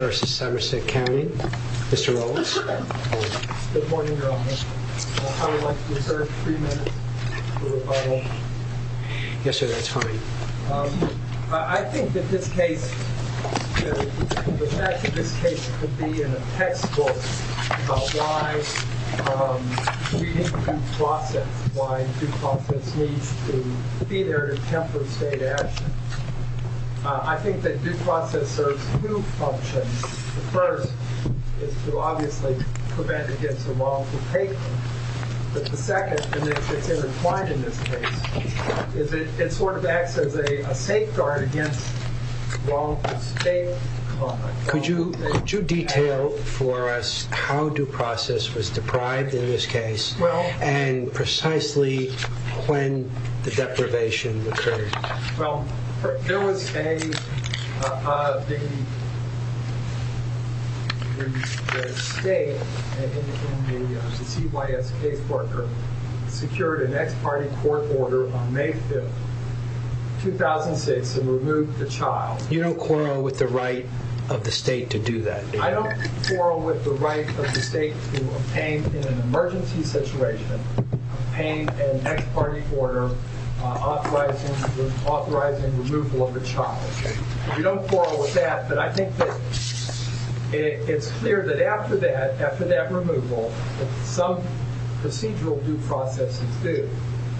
Good morning, Your Honor. I would like to reserve three minutes for rebuttal. Yes, sir. That's fine. I think that this case, the facts of this case could be in a textbook about why we need due process, why due process needs to be there to temper state action. I think that due process serves two functions. The first is to obviously prevent against a wrongful taking. But the second, and it's intertwined in this case, is that it sort of acts as a safeguard against wrongful state conduct. Could you detail for us how due process was deprived in this case and precisely when the deprivation occurred? Well, there was a, the state and the CYS caseworker secured an ex parte court order on May 5th, 2006 and removed the child. You don't quarrel with the right of the state to do that? I don't quarrel with the right of the state to obtain, in an emergency situation, obtain an ex parte order authorizing removal of a child. We don't quarrel with that, but I think that it's clear that after that, after that removal, that some procedural due process is due.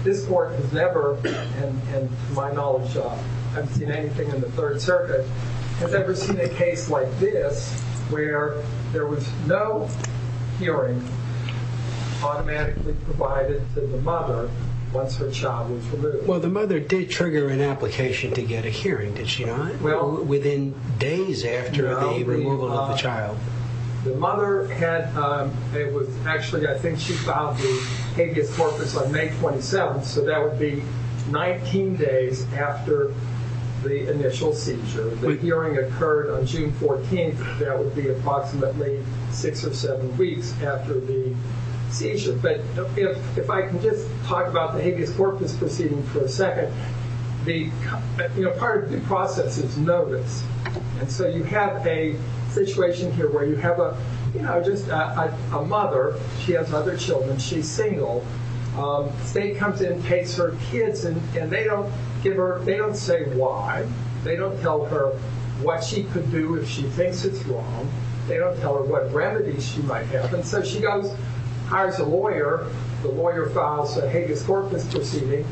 This court has never, to my knowledge, I haven't seen anything in the Third Circuit, has ever seen a case like this, where there was no hearing automatically provided to the mother once her child was removed. Well, the mother did trigger an application to get a hearing, did she not? Within days after the removal of the child. The mother had, it was actually, I think she filed the habeas corpus on May 27th, so that would be 19 days after the initial seizure. The hearing occurred on June 14th, so that would be approximately six or seven weeks after the seizure. But if I can just talk about the habeas corpus proceeding for a second, the, you know, part of due process is notice. And so you have a situation here where you have a, you know, just a mother, she has other children, she's single. State comes in and takes her kids, and they don't give her, they don't say why. They don't tell her what she could do if she thinks it's wrong. They don't tell her what remedies she might have. And so she goes, hires a lawyer, the lawyer files a habeas corpus proceeding,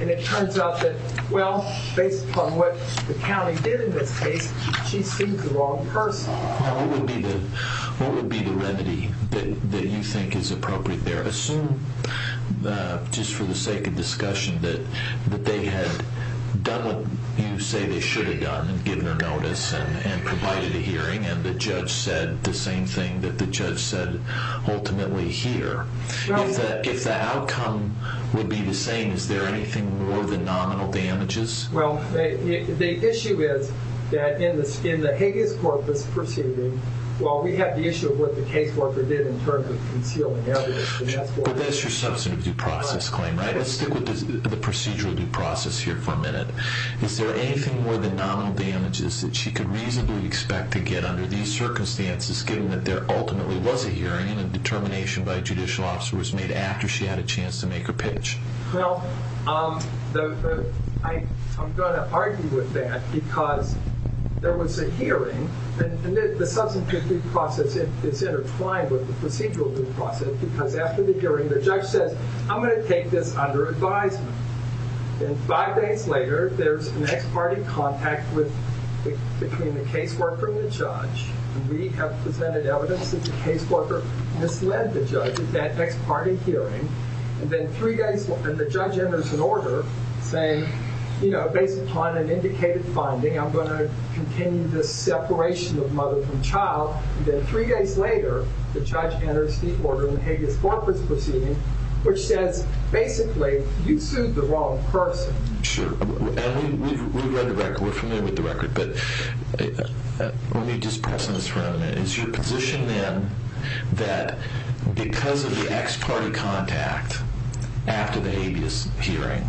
and it turns out that, well, based upon what the county did in this case, she sees the wrong person. What would be the remedy that you think is appropriate there? Assume, just for the sake of discussion, that they had done what you say they should have done, given her notice and provided a hearing, and the judge said the same thing that the judge said ultimately here. If the outcome would be the same, is there anything more than nominal damages? Well, the issue is that in the habeas corpus proceeding, well, we have the issue of what the caseworker did in terms of concealing evidence. But that's your substantive due process claim, right? Let's stick with the procedural due process here for a minute. Is there anything more than nominal damages that she could reasonably expect to get under these circumstances, given that there ultimately was a hearing and a determination by a judicial officer was made after she had a chance to make her pitch? Well, I'm going to argue with that, because there was a hearing, and the substantive due process is intertwined with the procedural due process, because after the hearing, the judge says, I'm going to take this under advisement. And five days later, there's an ex parte contact between the caseworker and the judge, and we have presented evidence that the caseworker misled the judge at that ex parte hearing. And then three days later, the judge enters an order saying, you know, based upon an indicated finding, I'm going to continue this separation of mother from child. And then three days later, the judge enters the order in the habeas corpus proceeding, which says, basically, you sued the wrong person. Sure. And we've read the record. We're familiar with the record. But let me just pause on this for a minute. Is your position, then, that because of the ex parte contact after the habeas hearing,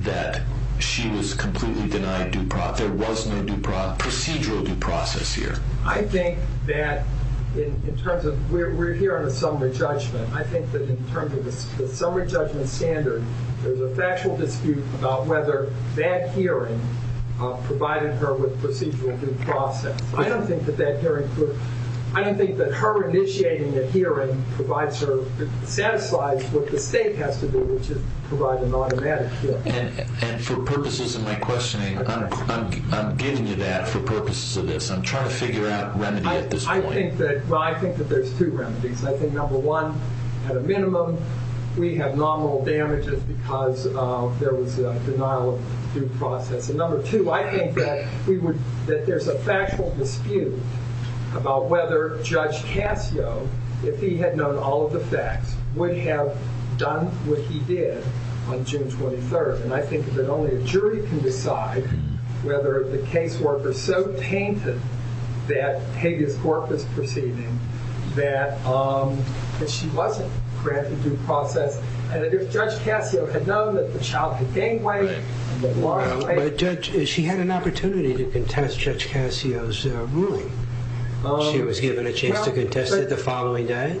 that she was completely denied due process? There was no procedural due process here? I think that in terms of we're here on a summary judgment. I think that in terms of the summary judgment standard, there's a factual dispute about whether that hearing provided her with procedural due process. I don't think that her initiating a hearing satisfies what the state has to do, which is provide an automatic hearing. And for purposes of my questioning, I'm giving you that for purposes of this. I'm trying to figure out remedy at this point. Well, I think that there's two remedies. I think, number one, at a minimum, we have nominal damages because there was a denial of due process. And number two, I think that there's a factual dispute about whether Judge Casio, if he had known all of the facts, would have done what he did on June 23rd. And I think that only a jury can decide whether the casework is so tainted that habeas corpus proceeding, that she wasn't granted due process. And if Judge Casio had known that the child had gang-raped and had lost weight. But Judge, she had an opportunity to contest Judge Casio's ruling. She was given a chance to contest it the following day.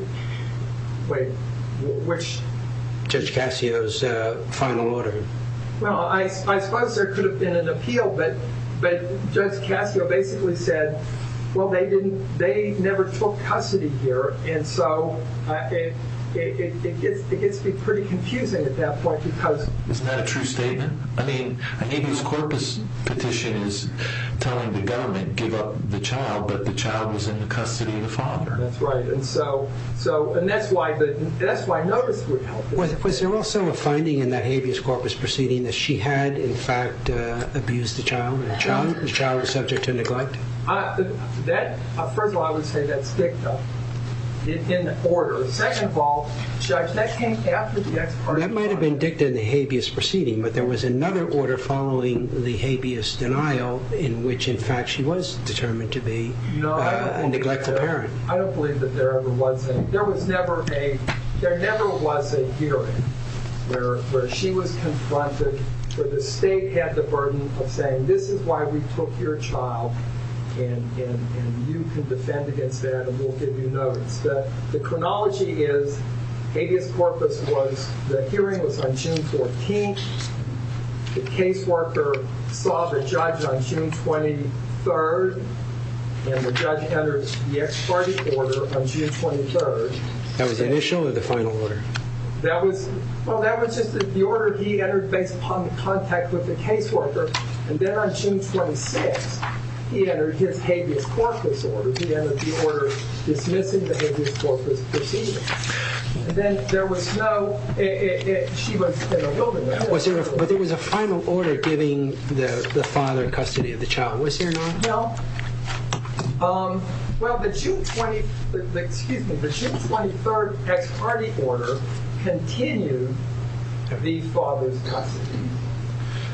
Wait, which? Judge Casio's final order. Well, I suppose there could have been an appeal, but Judge Casio basically said, well, they never took custody here. And so it gets to be pretty confusing at that point. Isn't that a true statement? I mean, a habeas corpus petition is telling the government, give up the child, but the child was in the custody of the father. That's right. And that's why notice would help. Was there also a finding in that habeas corpus proceeding that she had, in fact, abused the child? The child was subject to neglect? First of all, I would say that's dicta in the order. Second of all, Judge, that came after the ex parte trial. That might have been dicta in the habeas proceeding, but there was another order following the habeas denial in which, in fact, she was determined to be a neglectful parent. No, I don't believe that. I don't believe that there ever was any. There never was a hearing where she was confronted, where the state had the burden of saying, this is why we took your child, and you can defend against that and we'll give you notice. The chronology is habeas corpus was, the hearing was on June 14th. The caseworker saw the judge on June 23rd, and the judge entered the ex parte order on June 23rd. That was the initial or the final order? That was, well, that was just the order he entered based upon the contact with the caseworker, and then on June 26th, he entered his habeas corpus order. He entered the order dismissing the habeas corpus proceeding. Then there was no, she was in the holding. But there was a final order giving the father custody of the child. Was there not? No. Well, the June 23rd ex parte order continued the father's custody.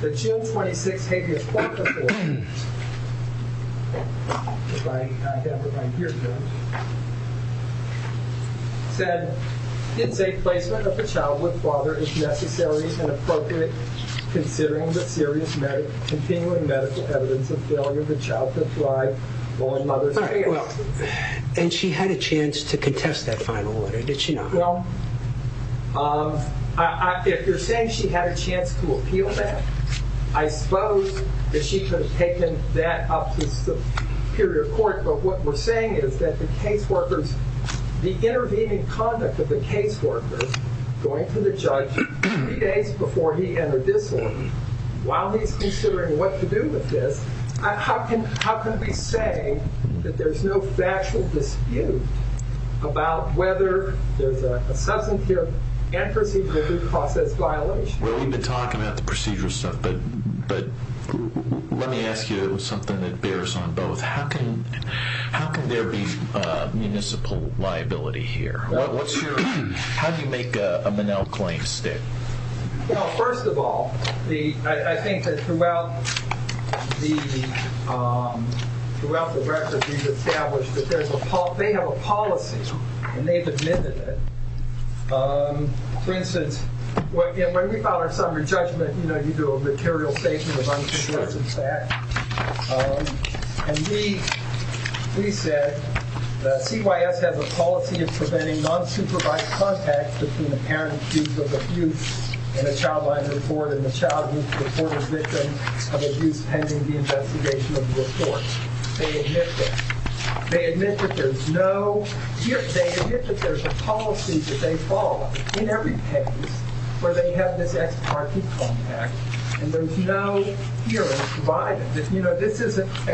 The June 26th habeas corpus order said, in safe placement of the child with father is necessary and appropriate considering the serious medical, continuing medical evidence of failure of the child to thrive while in mother's care. And she had a chance to contest that final order. Did she not? No. If you're saying she had a chance to appeal that, I suppose that she could have taken that up to superior court. But what we're saying is that the caseworkers, the intervening conduct of the caseworkers, going to the judge three days before he entered this order, while he's considering what to do with this, how can we say that there's no factual dispute about whether there's a substantive and procedural due process violation? Well, we've been talking about the procedural stuff. But let me ask you something that bears on both. How can there be municipal liability here? How do you make a Monell claim stick? Well, first of all, I think that throughout the record, we've established that they have a policy. And they've admitted it. For instance, when we file our summary judgment, you do a material statement of unsubstantive facts. And we said that CYS has a policy of preventing non-supervised contact between the parent accused of abuse in a child-life report and the child who's reported victim of abuse pending the investigation of the report. They admit that. They admit that there's a policy that they follow in every case where they have this ex-parte contact. And there's no hearing provided. This isn't a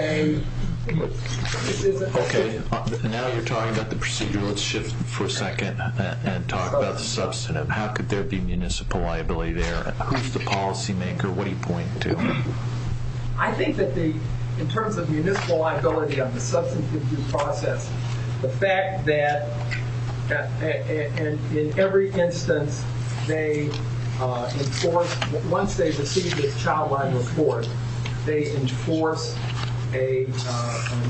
case. Okay. Now you're talking about the procedural. Let's shift for a second and talk about the substantive. How could there be municipal liability there? Who's the policymaker? What are you pointing to? I think that in terms of municipal liability on the substantive due process, the fact that in every instance they enforce, once they receive this child-life report, they enforce a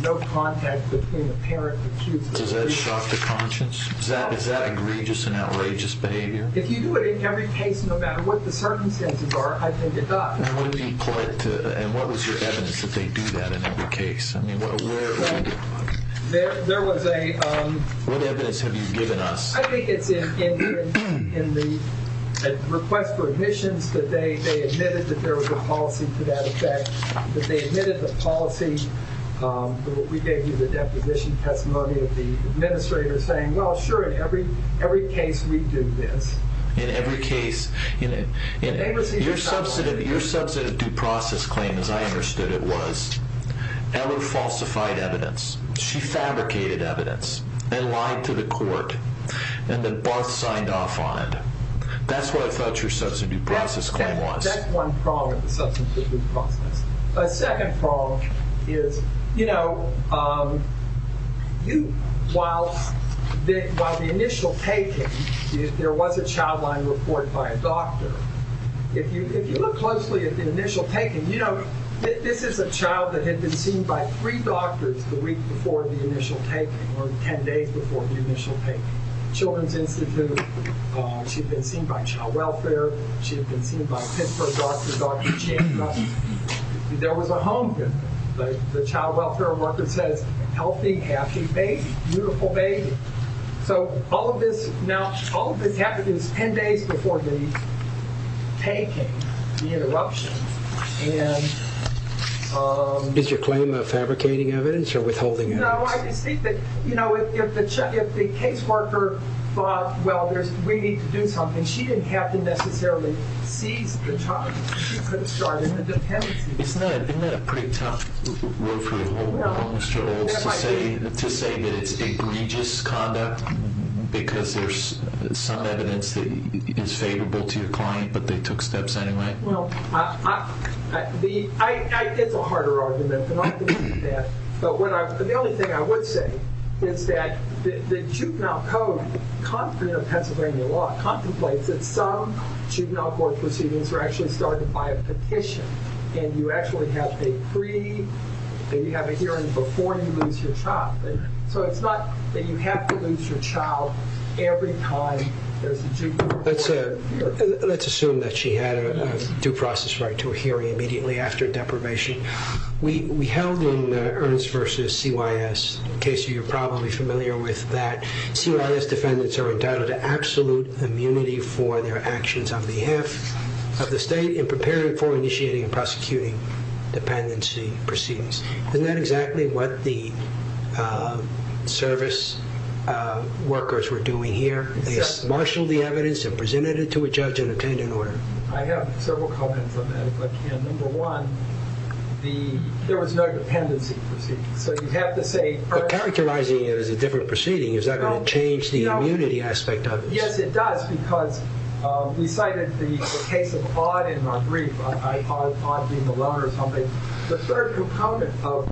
no contact between the parent accused of abuse. Does that shock the conscience? Is that egregious and outrageous behavior? If you do it in every case, no matter what the circumstances are, I think it does. And what was your evidence that they do that in every case? What evidence have you given us? I think it's in the request for admissions that they admitted that there was a policy to that effect, that they admitted the policy. We gave you the deposition testimony of the administrator saying, well, sure, in every case we do this. In every case. Your substantive due process claim, as I understood it, was ever falsified evidence. She fabricated evidence and lied to the court, and then both signed off on it. That's what I thought your substantive due process claim was. That's one problem with the substantive due process. A second problem is, you know, while the initial taking, there was a child-life report by a doctor, if you look closely at the initial taking, you know, this is a child that had been seen by three doctors the week before the initial taking, or 10 days before the initial taking. Children's Institute, she'd been seen by Child Welfare, she'd been seen by Pittsburgh doctor, Dr. Chang. There was a home visit. The Child Welfare worker says, healthy, happy baby, beautiful baby. So all of this happened 10 days before the taking, the interruption, and... Is your claim of fabricating evidence or withholding evidence? No, I just think that, you know, if the case worker thought, well, we need to do something, she didn't have to necessarily seize the child. She could have started the dependency. Isn't that a pretty tough road for the homeless to say, to say that it's egregious conduct, because there's some evidence that is favorable to your client, but they took steps anyway? Well, it's a harder argument, but the only thing I would say is that the Juvenile Code of Pennsylvania law contemplates that some juvenile court proceedings are actually started by a petition, and you actually have a hearing before you lose your child. So it's not that you have to lose your child every time there's a juvenile court hearing. Let's assume that she had a due process right to a hearing immediately after deprivation. We held in Ernst v. CYS, in case you're probably familiar with that, CYS defendants are entitled to absolute immunity for their actions on behalf of the state in preparing for initiating and prosecuting dependency proceedings. Isn't that exactly what the service workers were doing here? They marshaled the evidence and presented it to a judge and obtained an order. I have several comments on that, if I can. Number one, there was no dependency proceedings. So you'd have to say... But characterizing it as a different proceeding, is that going to change the immunity aspect of it? Yes, it does, because we cited the case of Odd in our brief, Odd being the loaner or something. The third component of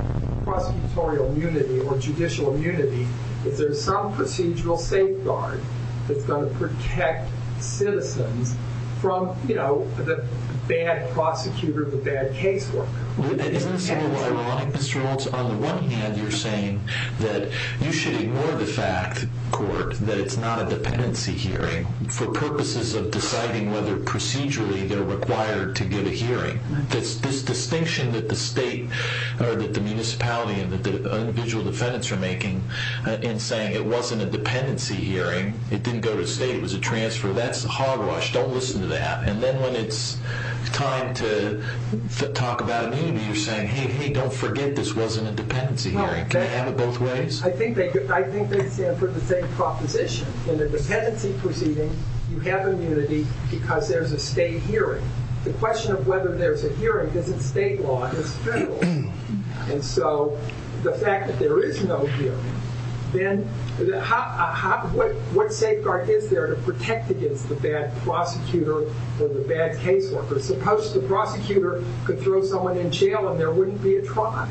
prosecutorial immunity or judicial immunity, if there's some procedural safeguard that's going to protect citizens from the bad prosecutor, the bad casework. Isn't this a little ironic, Mr. Oltz? On the one hand, you're saying that you should ignore the fact, court, that it's not a dependency hearing for purposes of deciding whether procedurally they're required to give a hearing. This distinction that the municipality and the individual defendants are making in saying it wasn't a dependency hearing, it didn't go to state, it was a transfer, that's hogwash. Don't listen to that. And then when it's time to talk about immunity, you're saying, hey, hey, don't forget, this wasn't a dependency hearing. Can they have it both ways? I think they stand for the same proposition. In a dependency proceeding, you have immunity because there's a state hearing. The question of whether there's a hearing isn't state law, it's federal. And so the fact that there is no hearing, what safeguard is there to protect against the bad prosecutor or the bad caseworker? Suppose the prosecutor could throw someone in jail and there wouldn't be a trial.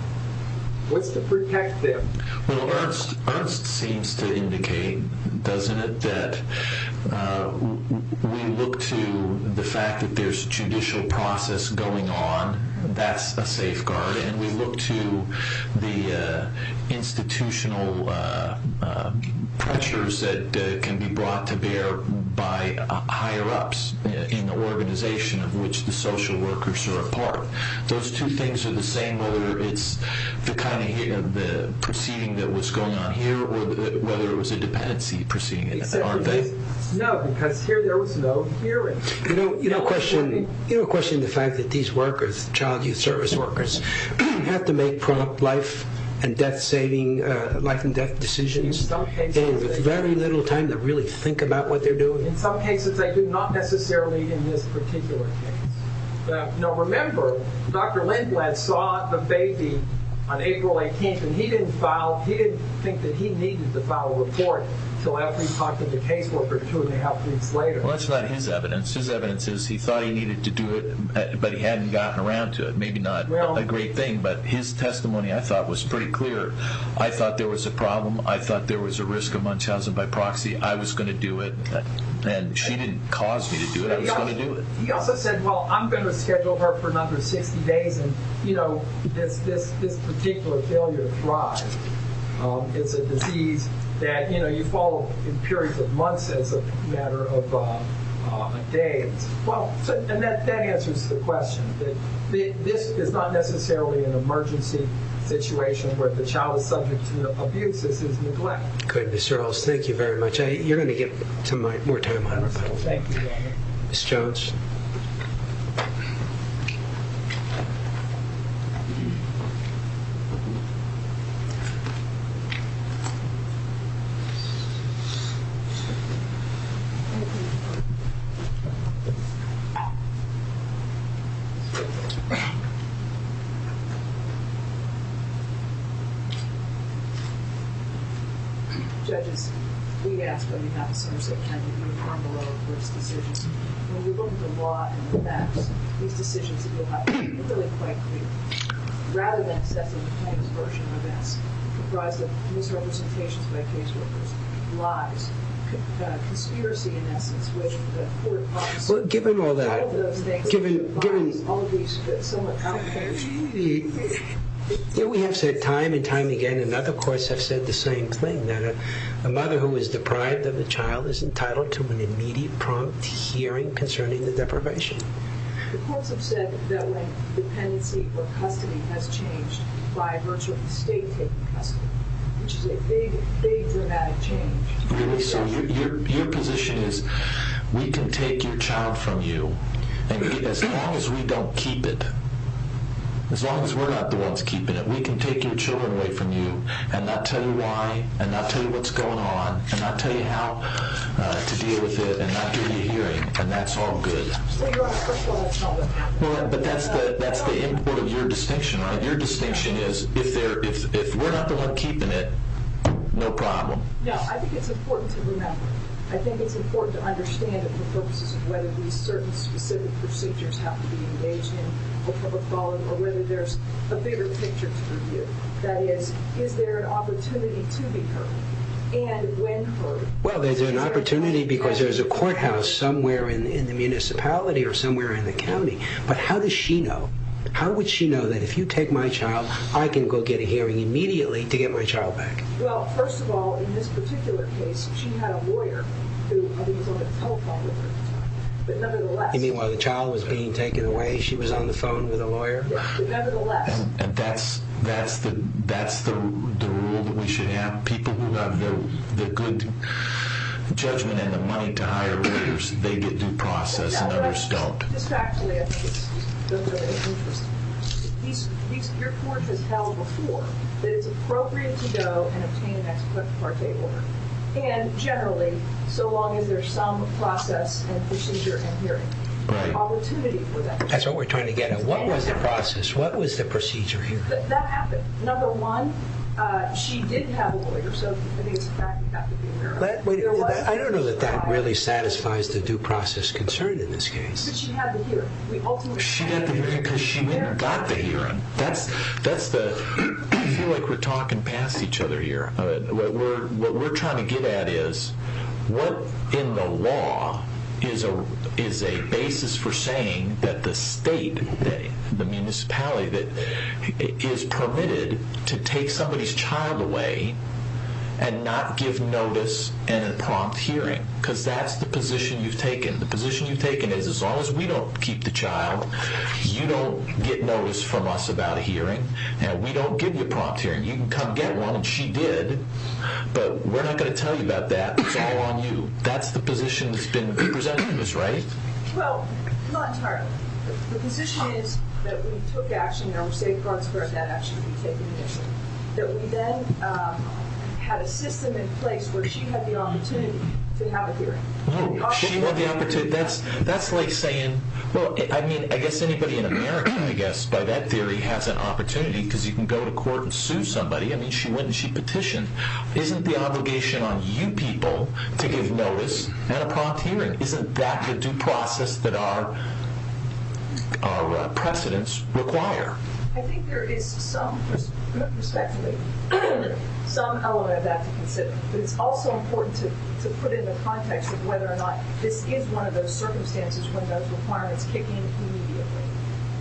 What's to protect them? Well, Ernst seems to indicate, doesn't it, that we look to the fact that there's judicial process going on. That's a safeguard. And we look to the institutional pressures that can be brought to bear by higher-ups in the organization of which the social workers are a part. Those two things are the same, whether it's the proceeding that was going on here or whether it was a dependency proceeding, aren't they? No, because here there was no hearing. You don't question the fact that these workers, child youth service workers, have to make prompt life and death saving, life and death decisions. They have very little time to really think about what they're doing. In some cases they do, not necessarily in this particular case. Now remember, Dr. Lindblad saw the baby on April 18th and he didn't think that he needed to file a report until after he talked to the caseworker two and a half weeks later. Well, that's not his evidence. His evidence is he thought he needed to do it but he hadn't gotten around to it. Maybe not a great thing, but his testimony, I thought, was pretty clear. I thought there was a problem. I thought there was a risk of Munchausen by proxy. I was going to do it. And she didn't cause me to do it. I was going to do it. He also said, well, I'm going to schedule her for another 60 days. And this particular failure thrives. It's a disease that you follow in periods of months as a matter of days. Well, that answers the question. This is not necessarily an emergency situation where the child is subject to abuse. This is neglect. Good, Mr. Earls. Thank you very much. You're going to get some more time on this. Thank you. Ms. Jones. Thank you. Judges, we ask that we have some sort of kind of uniform law of risk decisions. When we look at the law and the facts, these decisions that you have are really quite clear. Rather than assessing the plaintiff's version of events comprised of misrepresentations by caseworkers, lies, conspiracy, in essence, with the court process. Well, given all that. All of those things. Given all of these somewhat out there. We have said time and time again, and other courts have said the same thing, that a mother who is deprived of the child is entitled to an immediate prompt hearing concerning the deprivation. The courts have said that when dependency or custody has changed by virtue of the state taking custody, which is a big, big dramatic change. Really? So your position is we can take your child from you, and as long as we don't keep it, as long as we're not the ones keeping it, we can take your children away from you and not tell you why and not tell you what's going on and not tell you how to deal with it and not give you a hearing, and that's all good. But that's the import of your distinction, right? Your distinction is if we're not the ones keeping it, no problem. No, I think it's important to remember. I think it's important to understand it for purposes of whether these certain specific procedures have to be engaged in or whether there's a bigger picture to review. That is, is there an opportunity to be heard and when heard? Well, there's an opportunity because there's a courthouse somewhere in the municipality or somewhere in the county, but how does she know? How would she know that if you take my child, I can go get a hearing immediately to get my child back? Well, first of all, in this particular case, she had a lawyer who was on the telephone with her. But nevertheless... You mean while the child was being taken away, she was on the phone with a lawyer? But nevertheless... That's the rule that we should have. People who have the good judgment and the money to hire lawyers, they get due process and others don't. Just actually, I think it's interesting. Your court has held before that it's appropriate to go and obtain an ex parte order. And generally, so long as there's some process and procedure and hearing. Opportunity for that... That's what we're trying to get at. What was the process? What was the procedure here? That happened. Number one, she did have a lawyer, so I think it's a fact we have to be aware of. I don't know that that really satisfies the due process concern in this case. But she had the hearing. She had the hearing because she went and got the hearing. That's the... I feel like we're talking past each other here. What we're trying to get at is, what in the law is a basis for saying that the state, the municipality, is permitted to take somebody's child away and not give notice in a prompt hearing? Because that's the position you've taken. The position you've taken is, as long as we don't keep the child, you don't get notice from us about a hearing, and we don't give you a prompt hearing. You can come get one, and she did, but we're not going to tell you about that. It's all on you. That's the position that's been presented to us, right? Well, not entirely. The position is that we took action, and we're saying, for instance, where that action could be taken initially. That we then had a system in place where she had the opportunity to have a hearing. She had the opportunity? That's like saying... Well, I mean, I guess anybody in America, I guess, by that theory has an opportunity because you can go to court and sue somebody. I mean, she went and she petitioned. Isn't the obligation on you people to give notice at a prompt hearing? Isn't that the due process that our precedents require? I think there is some perspective, some element of that to consider. But it's also important to put in the context of whether or not this is one of those circumstances when those requirements kick in immediately.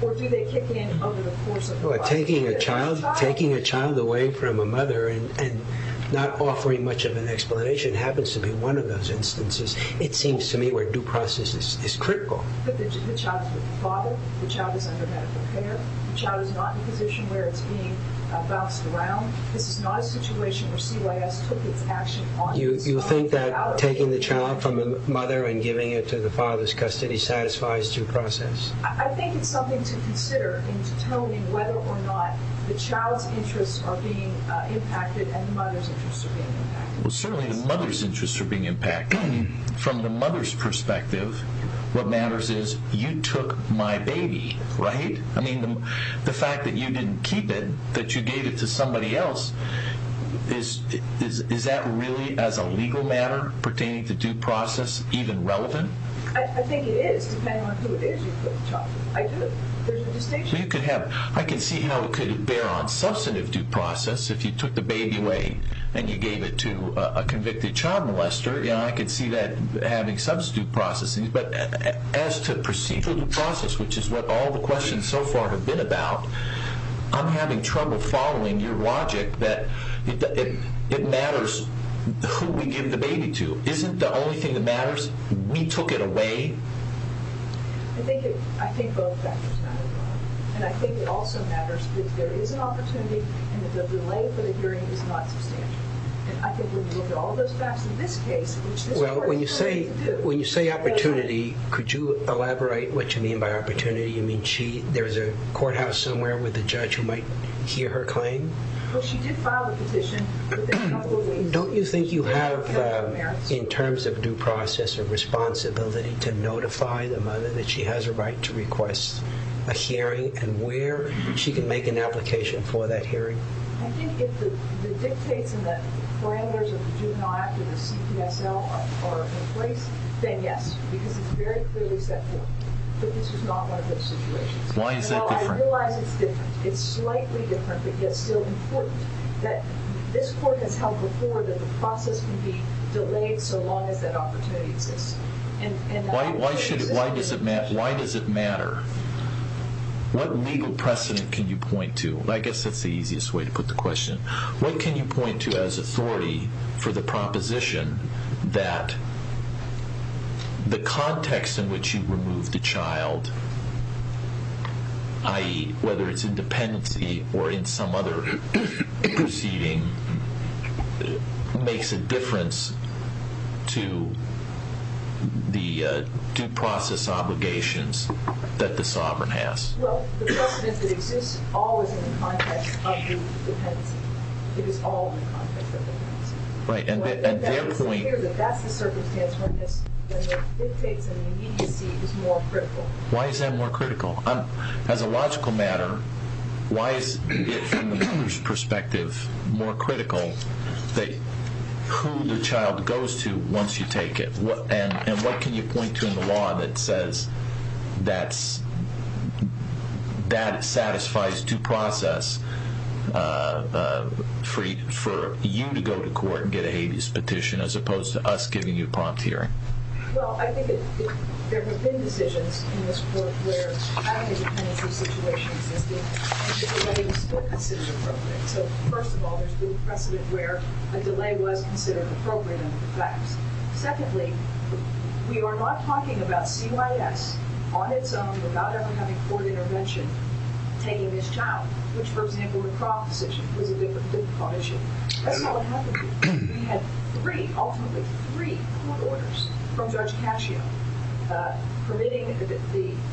Or do they kick in over the course of the process? Well, taking a child away from a mother and not offering much of an explanation happens to be one of those instances, it seems to me, where due process is critical. But the child is with the father, the child is under medical care, the child is not in a position where it's being bounced around. This is not a situation where CYS took its action on this. You think that taking the child from the mother and giving it to the father's custody satisfies due process? I think it's something to consider in determining whether or not the child's interests are being impacted and the mother's interests are being impacted. Well, certainly the mother's interests are being impacted. From the mother's perspective, what matters is you took my baby, right? I mean, the fact that you didn't keep it, that you gave it to somebody else, is that really, as a legal matter, pertaining to due process, even relevant? I think it is, depending on who it is you took the child from. There's no distinction. I can see how it could bear on substantive due process if you took the baby away and you gave it to a convicted child molester. I can see that having substitute processing. But as to procedural due process, which is what all the questions so far have been about, I'm having trouble following your logic that it matters who we give the baby to. Isn't the only thing that matters, we took it away? I think both factors matter, and I think it also matters that there is an opportunity and that the delay for the hearing is not substantial. And I think when you look at all those facts in this case... Well, when you say opportunity, could you elaborate what you mean by opportunity? You mean there's a courthouse somewhere with a judge who might hear her claim? Well, she did file the petition, but there's a couple of ways... Don't you think you have, in terms of due process, a responsibility to notify the mother that she has a right to request a hearing and where she can make an application for that hearing? I think if the dictates in the parameters of the Juvenile Act or the CPSL are in place, then yes, because it's very clearly set forth. But this is not one of those situations. And while I realize it's different, it's slightly different, but yet still important, that this court has held before that the process can be delayed so long as that opportunity exists. Why does it matter? What legal precedent can you point to? I guess that's the easiest way to put the question. What can you point to as authority for the proposition that the context in which you remove the child, i.e., whether it's in dependency or in some other proceeding, makes a difference to the due process obligations that the sovereign has? Well, the precedent that exists always in the context of dependency. It is always in the context of dependency. It's clear that that's the circumstance when the dictates and the immediacy is more critical. Why is that more critical? As a logical matter, why is it from the mother's perspective more critical who the child goes to once you take it? And what can you point to in the law that says that satisfies due process for you to go to court and get a habeas petition as opposed to us giving you prompt hearing? Well, I think there have been decisions in this court where having a dependency situation existed and the delay was still considered appropriate. So, first of all, there's been precedent where a delay was considered appropriate under the facts. Secondly, we are not talking about CYS on its own without ever having court intervention taking this child, which, for example, the Croft decision was a different court decision. That's not what happened here. We had three, ultimately three, court orders from Judge Cascio permitting the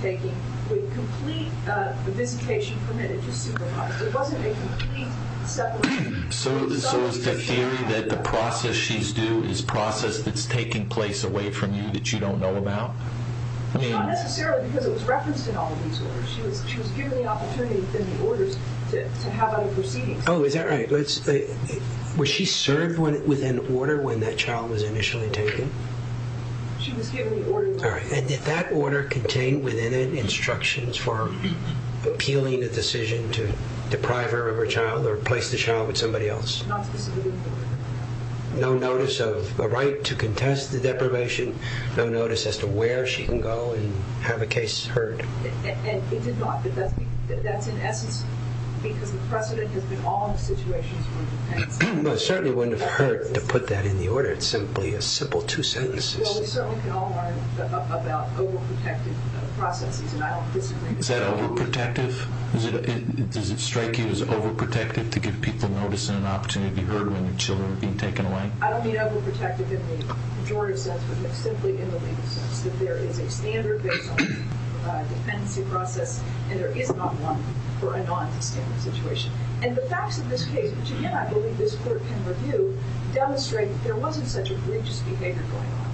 taking with complete visitation permitted to supervise. It wasn't a complete separation. So is the theory that the process she's due is process that's taking place away from you that you don't know about? Not necessarily because it was referenced in all of these orders. She was given the opportunity in the orders to have other proceedings. Oh, is that right? Was she served with an order when that child was initially taken? She was given the order. And did that order contain within it instructions for appealing a decision to deprive her of her child or replace the child with somebody else? Not specifically. No notice of a right to contest the deprivation? No notice as to where she can go and have a case heard? It did not. That's in essence because the precedent has been all of the situations. Well, it certainly wouldn't have hurt to put that in the order. It's simply a simple two sentences. Well, we certainly can all learn about overprotective processes. Is that overprotective? Does it strike you as overprotective to give people notice and an opportunity to be heard when their children are being taken away? I don't mean overprotective in the majority sense, but simply in the legal sense, that there is a standard based on the dependency process and there is not one for a non-standard situation. And the facts of this case, which again I believe this court can review, demonstrate that there wasn't such egregious behavior going on.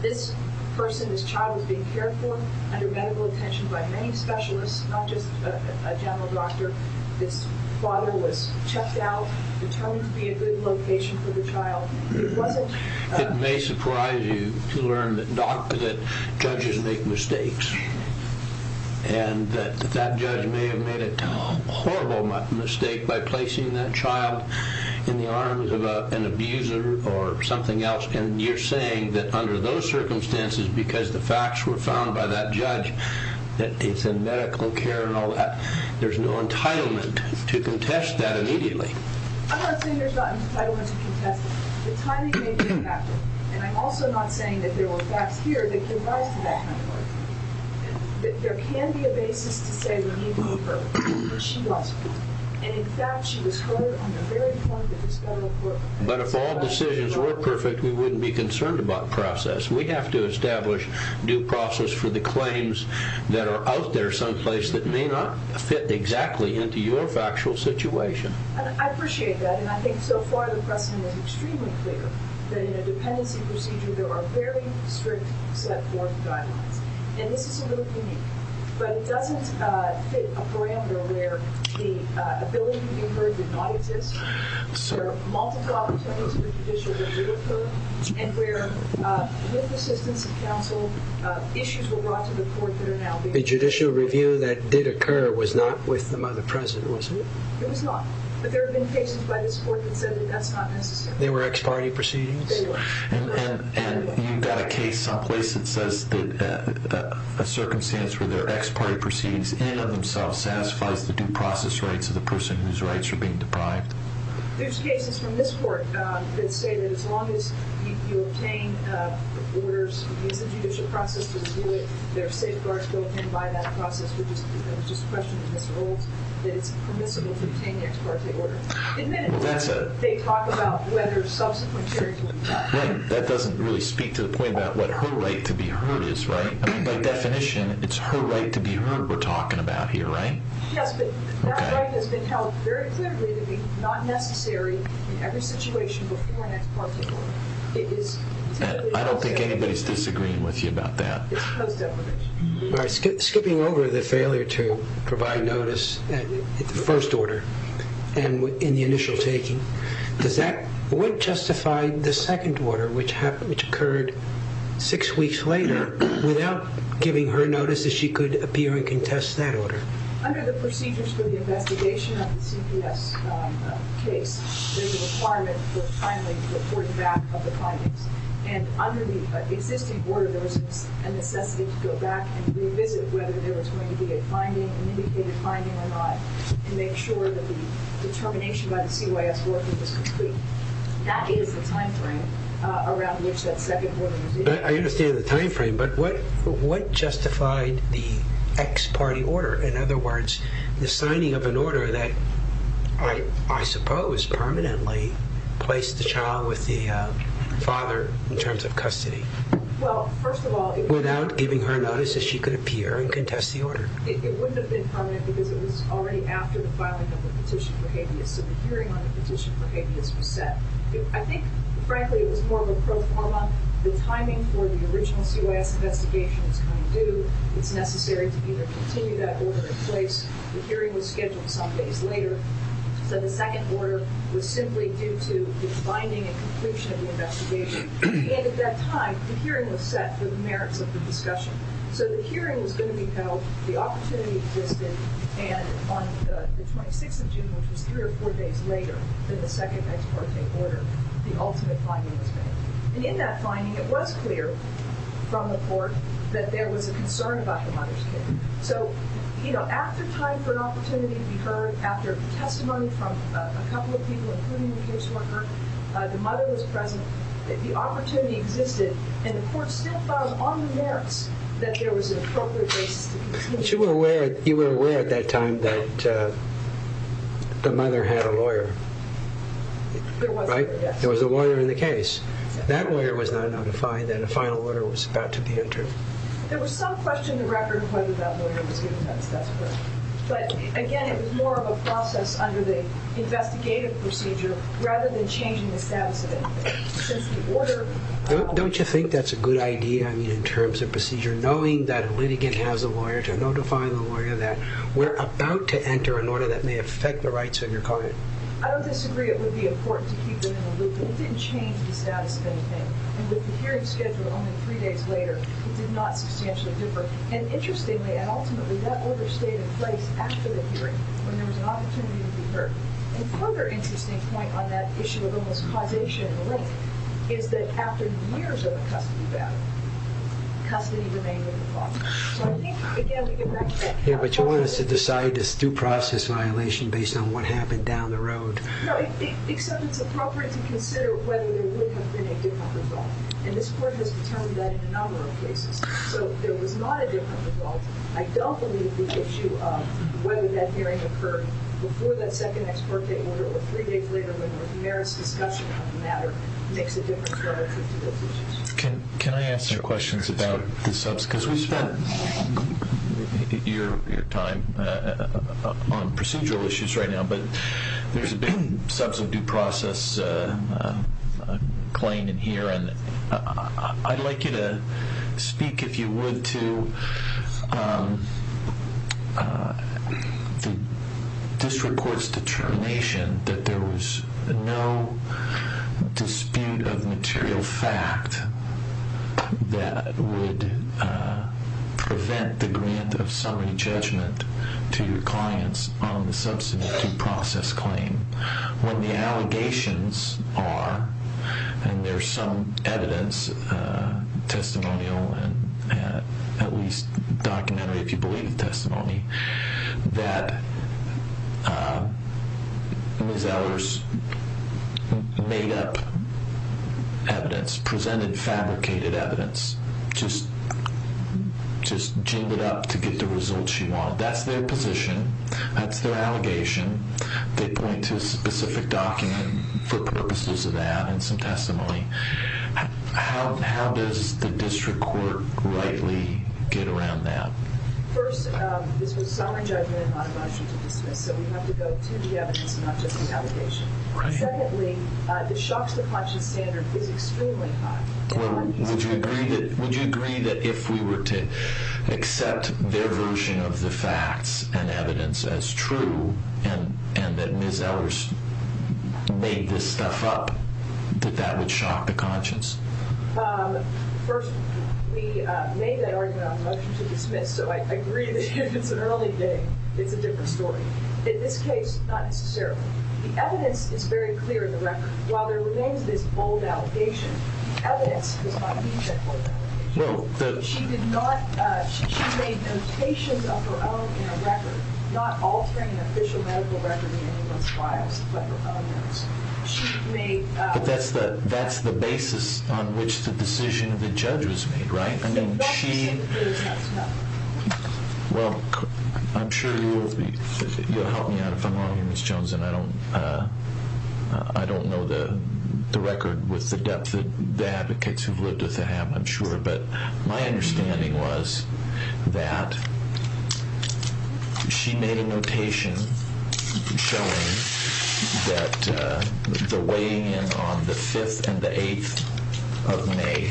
This person, this child was being cared for under medical attention by many specialists, not just a general doctor. This father was checked out, determined to be a good location for the child. It may surprise you to learn that judges make mistakes and that that judge may have made a horrible mistake by placing that child in the arms of an abuser or something else. And you're saying that under those circumstances, because the facts were found by that judge, that it's in medical care and all that, there's no entitlement to contest that immediately. I'm not saying there's not entitlement to contest it. The timing may be impacted. And I'm also not saying that there were facts here that give rise to that kind of argument. There can be a basis to say that he was perfect, or she was perfect. And in fact, she was perfect on the very point that this federal court... But if all decisions were perfect, we wouldn't be concerned about process. We have to establish due process for the claims that are out there someplace that may not fit exactly into your factual situation. I appreciate that. And I think so far the precedent is extremely clear that in a dependency procedure, there are very strict set forth guidelines. And this is a really unique one. But it doesn't fit a parameter where the ability to be heard did not exist, where multiple opportunities for judicial review occurred, and where, with assistance of counsel, issues were brought to the court that are now being... The judicial review that did occur was not with the mother president, was it? It was not. But there have been cases by this court that said that that's not necessary. They were ex parte proceedings? They were. And you've got a case someplace that says that a circumstance where there are ex parte proceedings in and of themselves satisfies the due process rights of the person whose rights are being deprived. There's cases from this court that say that as long as you obtain orders, use the judicial process to review it, there are safeguards built in by that process, which is just a question of miserables, that it's permissible to obtain the ex parte order. In many cases, they talk about whether subsequent hearings... Right. That doesn't really speak to the point about what her right to be heard is, right? I mean, by definition, it's her right to be heard we're talking about here, right? Yes, but that right has been held very clearly to be not necessary in every situation before an ex parte order. I don't think anybody's disagreeing with you about that. It's post-definition. Skipping over the failure to provide notice at the first order and in the initial taking, what justified the second order, which occurred six weeks later, without giving her notice that she could appear and contest that order? Under the procedures for the investigation of the CPS case, there's a requirement for timely report back of the findings, and under the existing order, there was a necessity to go back and revisit whether there was going to be a finding, an indicated finding or not, to make sure that the determination by the CYS board was complete. That is the timeframe around which that second order was issued. I understand the timeframe, but what justified the ex parte order? In other words, the signing of an order that, I suppose, permanently placed the child with the father in terms of custody? Well, first of all... Without giving her notice that she could appear and contest the order. It wouldn't have been permanent because it was already after the filing of the petition for habeas, so the hearing on the petition for habeas was set. I think, frankly, it was more of a pro forma. The timing for the original CYS investigation was kind of due. It's necessary to either continue that order in place. The hearing was scheduled some days later, so the second order was simply due to the finding and conclusion of the investigation. And at that time, the hearing was set for the merits of the discussion. So the hearing was going to be held, the opportunity existed, and on the 26th of June, which was three or four days later, than the second ex parte order, the ultimate finding was made. And in that finding, it was clear from the court that there was a concern about the mother's case. So, you know, after time for an opportunity to be heard, after testimony from a couple of people, including the caseworker, the mother was present, the opportunity existed, and the court still filed on the merits that there was an appropriate basis to be seen. But you were aware at that time that the mother had a lawyer, right? There was a lawyer, yes. That lawyer was not notified that a final order was about to be entered. There was some question in the record of whether that lawyer was given that status quo. But again, it was more of a process under the investigative procedure rather than changing the status of anything. Don't you think that's a good idea in terms of procedure, knowing that a litigant has a lawyer to notify the lawyer that we're about to enter an order that may affect the rights of your client? I don't disagree. It would be important to keep them in the loop. It didn't change the status of anything. And with the hearing scheduled only three days later, it did not substantially differ. And interestingly, and ultimately, that order stayed in place after the hearing when there was an opportunity to be heard. And a further interesting point on that issue of almost causation and the like is that after years of a custody battle, custody remained within the law. So I think, again, we get back to that. Yeah, but you want us to decide it's a due process violation based on what happened down the road. No, except it's appropriate to consider whether there would have been a different result. And this court has determined that in a number of cases. So there was not a different result. I don't believe the issue of whether that hearing occurred before that second ex parte order or three days later when the merits discussion on the matter makes a difference relative to those issues. Can I ask you questions about the subs? Because we've spent your time on procedural issues right now, but there's been subs of due process claim in here. And I'd like you to speak, if you would, to the district court's determination that there was no dispute of material fact that would prevent the grant of summary judgment to your clients on the substantive due process claim when the allegations are, and there's some evidence, testimonial and at least documentary, if you believe the testimony, that Ms. Ehlers made up evidence, presented fabricated evidence, just jingled up to get the results she wanted. That's their position. That's their allegation. They point to a specific document for purposes of that and some testimony. How does the district court rightly get around that? First, this was summary judgment and not a motion to dismiss. So we have to go to the evidence and not just the allegation. Secondly, the shock to the conscience standard is extremely high. Would you agree that if we were to accept their version of the facts and evidence as true and that Ms. Ehlers made this stuff up, that that would shock the conscience? First, we made that argument on a motion to dismiss, so I agree that if it's an early day, it's a different story. In this case, not necessarily. The evidence is very clear in the record. While there remains this bold allegation, evidence does not need that bold allegation. She made notations of her own in a record, not altering an official medical record in anyone's files, but her own ones. But that's the basis on which the decision of the judge was made, right? I mean, she – Well, I'm sure you'll help me out if I'm wrong here, Ms. Jones, and I don't know the record with the depth that the advocates who've lived with her have, I'm sure, but my understanding was that she made a notation showing that the weigh-in on the 5th and the 8th of May,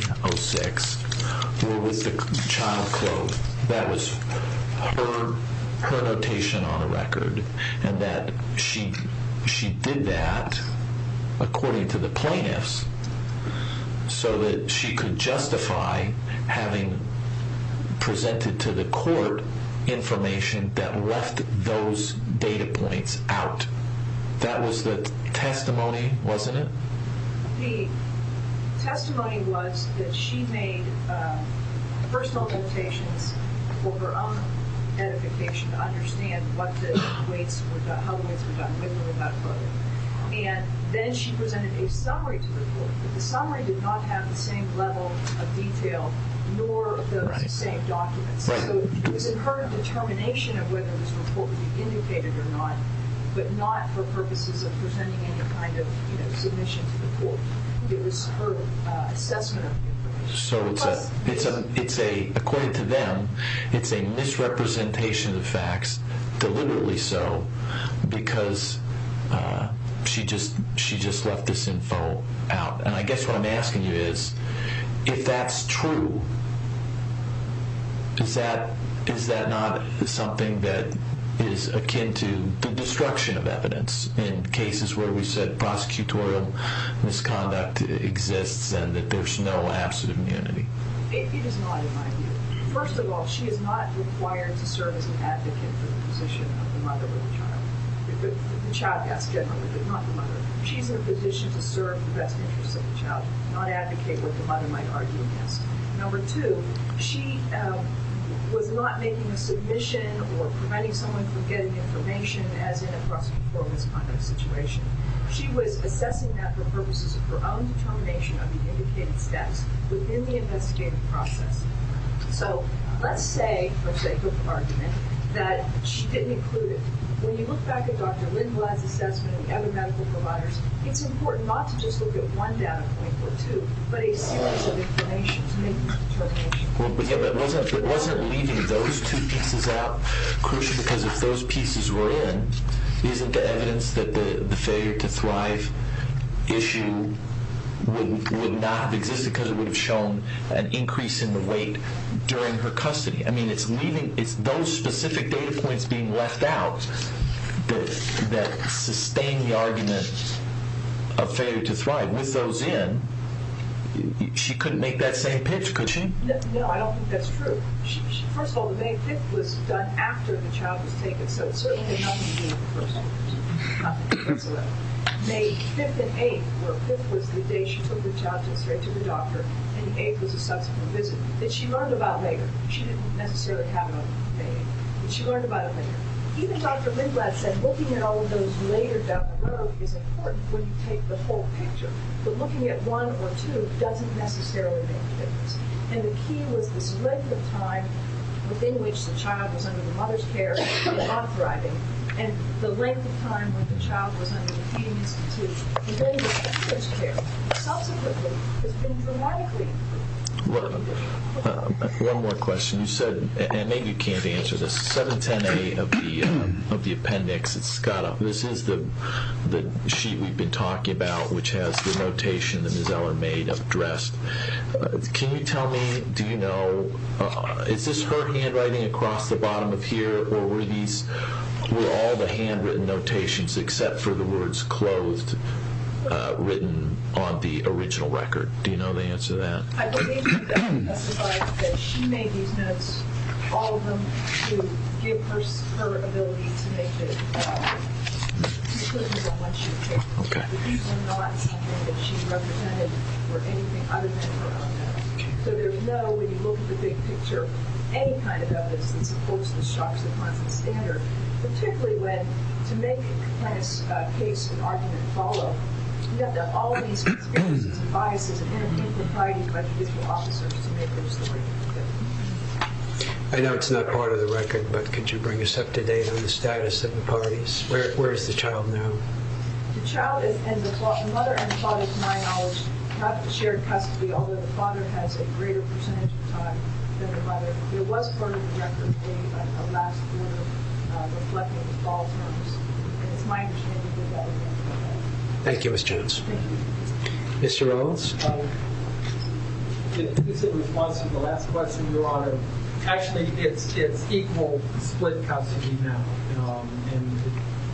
were with the child clothed. That was her notation on the record, and that she did that according to the plaintiffs so that she could justify having presented to the court information that left those data points out. That was the testimony, wasn't it? The testimony was that she made personal notations for her own edification to understand what the weights were – how the weights were done, what they were about. And then she presented a summary to the court, but the summary did not have the same level of detail, nor those same documents. So it was in her determination of whether this report would be indicated or not, but not for purposes of presenting any kind of submission to the court. It was her assessment of the information. So it's a – according to them, it's a misrepresentation of facts, deliberately so, because she just left this info out. And I guess what I'm asking you is, if that's true, is that not something that is akin to the destruction of evidence in cases where we've said prosecutorial misconduct exists and that there's no absolute immunity? It is not, in my view. First of all, she is not required to serve as an advocate for the position of the mother with the child. The child, yes, generally, but not the mother. She's in a position to serve the best interests of the child, not advocate what the mother might argue against. Number two, she was not making a submission or preventing someone from getting information, as in a prosecutorial misconduct situation. She was assessing that for purposes of her own determination of the indicated steps within the investigative process. So let's say, for sake of argument, that she didn't include it. When you look back at Dr. Lindblad's assessment and other medical providers, it's important not to just look at one data point or two, but a series of information to make a determination. But wasn't leaving those two pieces out crucial? Because if those pieces were in, isn't the evidence that the failure to thrive issue would not have existed because it would have shown an increase in the weight during her custody? It's those specific data points being left out that sustain the argument of failure to thrive. With those in, she couldn't make that same pitch, could she? No, I don't think that's true. First of all, the May 5th was done after the child was taken, so it certainly had nothing to do with the first one. May 5th and 8th were the days she took the child to the doctor, and the 8th was a subsequent visit that she learned about later. She didn't necessarily have it on May 8th, but she learned about it later. Even Dr. Lindblad said looking at all of those later down the road is important when you take the whole picture, but looking at one or two doesn't necessarily make a difference. And the key was this length of time within which the child was under the mother's care and not thriving, and the length of time when the child was under the feeding institute and then under the mother's care. Subsequently, it's been dramatically improved. One more question. You said, and maybe you can't answer this, 710A of the appendix, this is the sheet we've been talking about which has the notation that Ms. Eller made of dressed. Can you tell me, do you know, is this her handwriting across the bottom of here, or were all the handwritten notations except for the words clothed written on the original record? Do you know the answer to that? I believe that she made these notes, all of them, to give her ability to make decisions on what she would take. These were not something that she represented or anything other than her own notes. So there's no, when you look at the big picture, any kind of notice that supports the Sharps and Ponson standard, particularly when, to make a case and argument follow, you have to have all of these experiences and biases and integrity by judicial officers to make this the way it should be. I know it's not part of the record, but could you bring us up to date on the status of the parties? Where is the child now? The child and the mother and father, to my knowledge, have shared custody, although the father has a greater percentage of the time than the mother. It was part of the record at the end of the last quarter, reflecting the fall terms. That's my understanding of that. Thank you, Ms. Jones. Thank you. Mr. Owens? In response to the last question, Your Honor, actually it's equal split custody now. And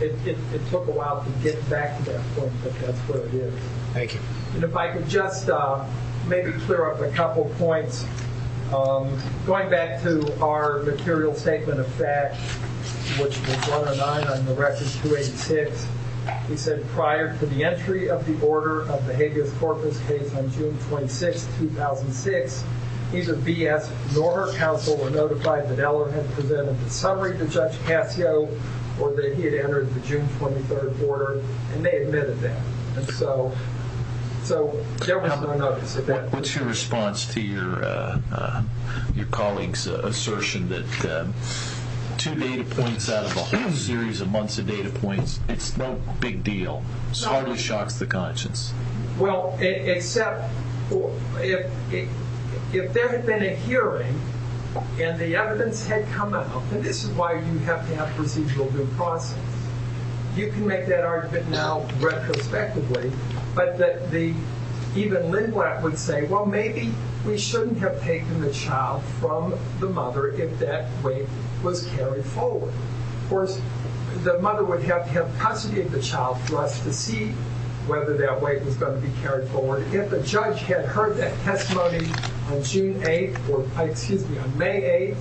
it took a while to get back to that point, but that's what it is. Thank you. And if I could just maybe clear up a couple points. Going back to our material statement of facts, which was brought to mind on the record 286, he said prior to the entry of the order of the habeas corpus case on June 26, 2006, neither B.S. nor her counsel were notified that Eller had presented the summary to Judge Cascio or that he had entered the June 23rd order, and they admitted that. And so there was no notice of that. What's your response to your colleague's assertion that two data points out of a whole series of months of data points, it's no big deal, it hardly shocks the conscience? Well, except if there had been a hearing and the evidence had come out that this is why you have to have procedural due process, you can make that argument now retrospectively, but that even Lindblad would say, well, maybe we shouldn't have taken the child from the mother if that weight was carried forward. Of course, the mother would have to have posited the child for us to see whether that weight was going to be carried forward. If the judge had heard that testimony on May 8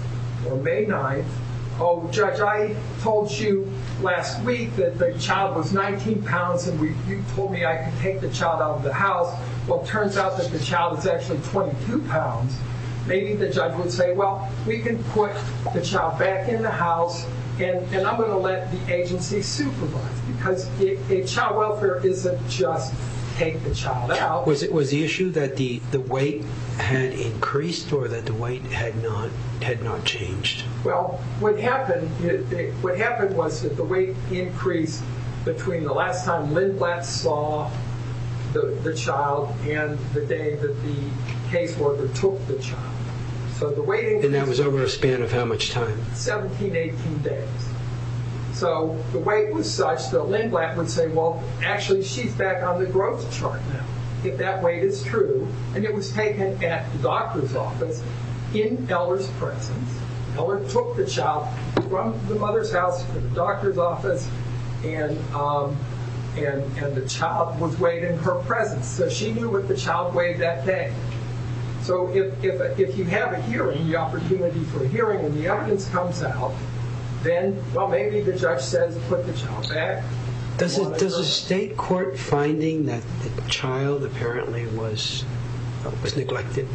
or May 9, oh, Judge, I told you last week that the child was 19 pounds and you told me I could take the child out of the house. Well, it turns out that the child is actually 22 pounds. Maybe the judge would say, well, we can put the child back in the house and I'm going to let the agency supervise because child welfare isn't just take the child out. Was the issue that the weight had increased or that the weight had not changed? Well, what happened was that the weight increased between the last time Lindblad saw the child and the day that the caseworker took the child. And that was over a span of how much time? 17, 18 days. So the weight was such that Lindblad would say, well, actually she's back on the growth chart now if that weight is true. And it was taken at the doctor's office in Eller's presence. Eller took the child from the mother's house to the doctor's office and the child was weighed in her presence. So she knew what the child weighed that day. So if you have a hearing, the opportunity for hearing and the evidence comes out, then, well, maybe the judge says put the child back. Does a state court finding that the child apparently was neglected,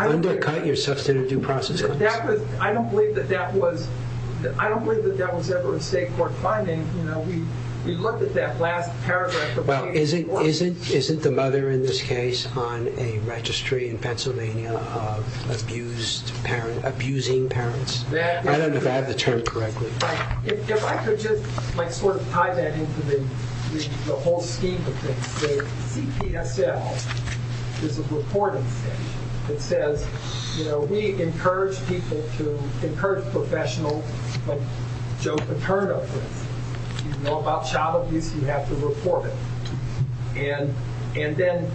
undercut your substantive due process? I don't believe that that was ever a state court finding. We looked at that last paragraph. Well, isn't the mother in this case on a registry in Pennsylvania of abusing parents? I don't know if I have the term correctly. If I could just sort of tie that into the whole scheme of things. The CPSL is a reporting statute. It says, you know, we encourage people to encourage professional, like Joe Paterno, for instance. If you know about child abuse, you have to report it. And then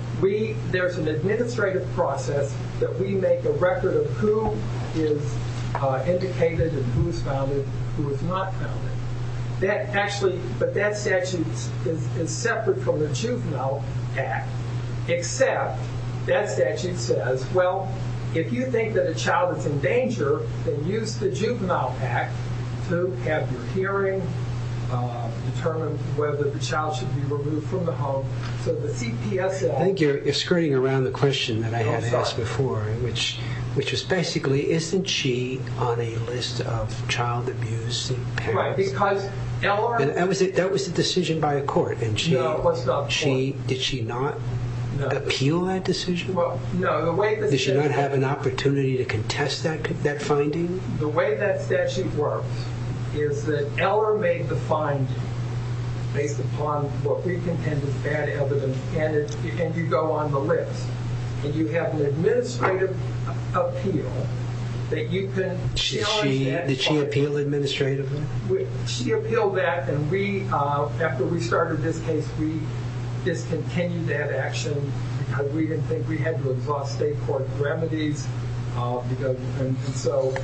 there's an administrative process that we make a record of who is indicated and who is founded and who is not founded. But that statute is separate from the Juvenile Act. Except that statute says, well, if you think that a child is in danger, then use the Juvenile Act to have your hearing, determine whether the child should be removed from the home. So the CPSL. I think you're skirting around the question that I had asked before, which is basically, isn't she on a list of child abuse parents? That was a decision by a court. Did she not appeal that decision? Did she not have an opportunity to contest that finding? The way that statute works is that Eller made the finding based upon what we contend is bad evidence. And you go on the list. And you have an administrative appeal that you can challenge that finding. Did she appeal administratively? She appealed that. And after we started this case, we discontinued that action because we didn't think we had to exhaust state court remedies. And so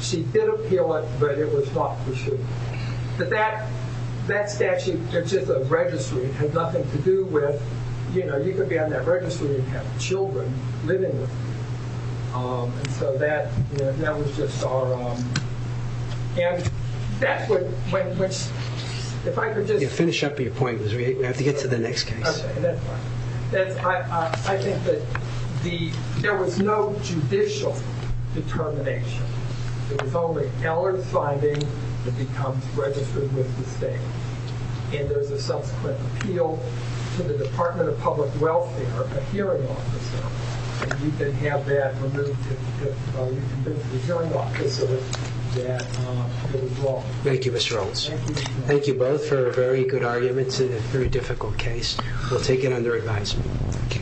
she did appeal it, but it was not pursued. But that statute, it's just a registry. It has nothing to do with, you know, if you're on that registry, you have children living with you. And so that was just our... And that's what... Finish up your point, Liz. We have to get to the next case. I think that there was no judicial determination. It was only Eller's finding that becomes registered with the state. And there's a subsequent appeal to the Department of Public Welfare, a hearing officer. And you can have that removed if you convince the hearing officer that it was wrong. Thank you, Mr. Olds. Thank you. Thank you both for very good arguments in a very difficult case. We'll take it under advisement.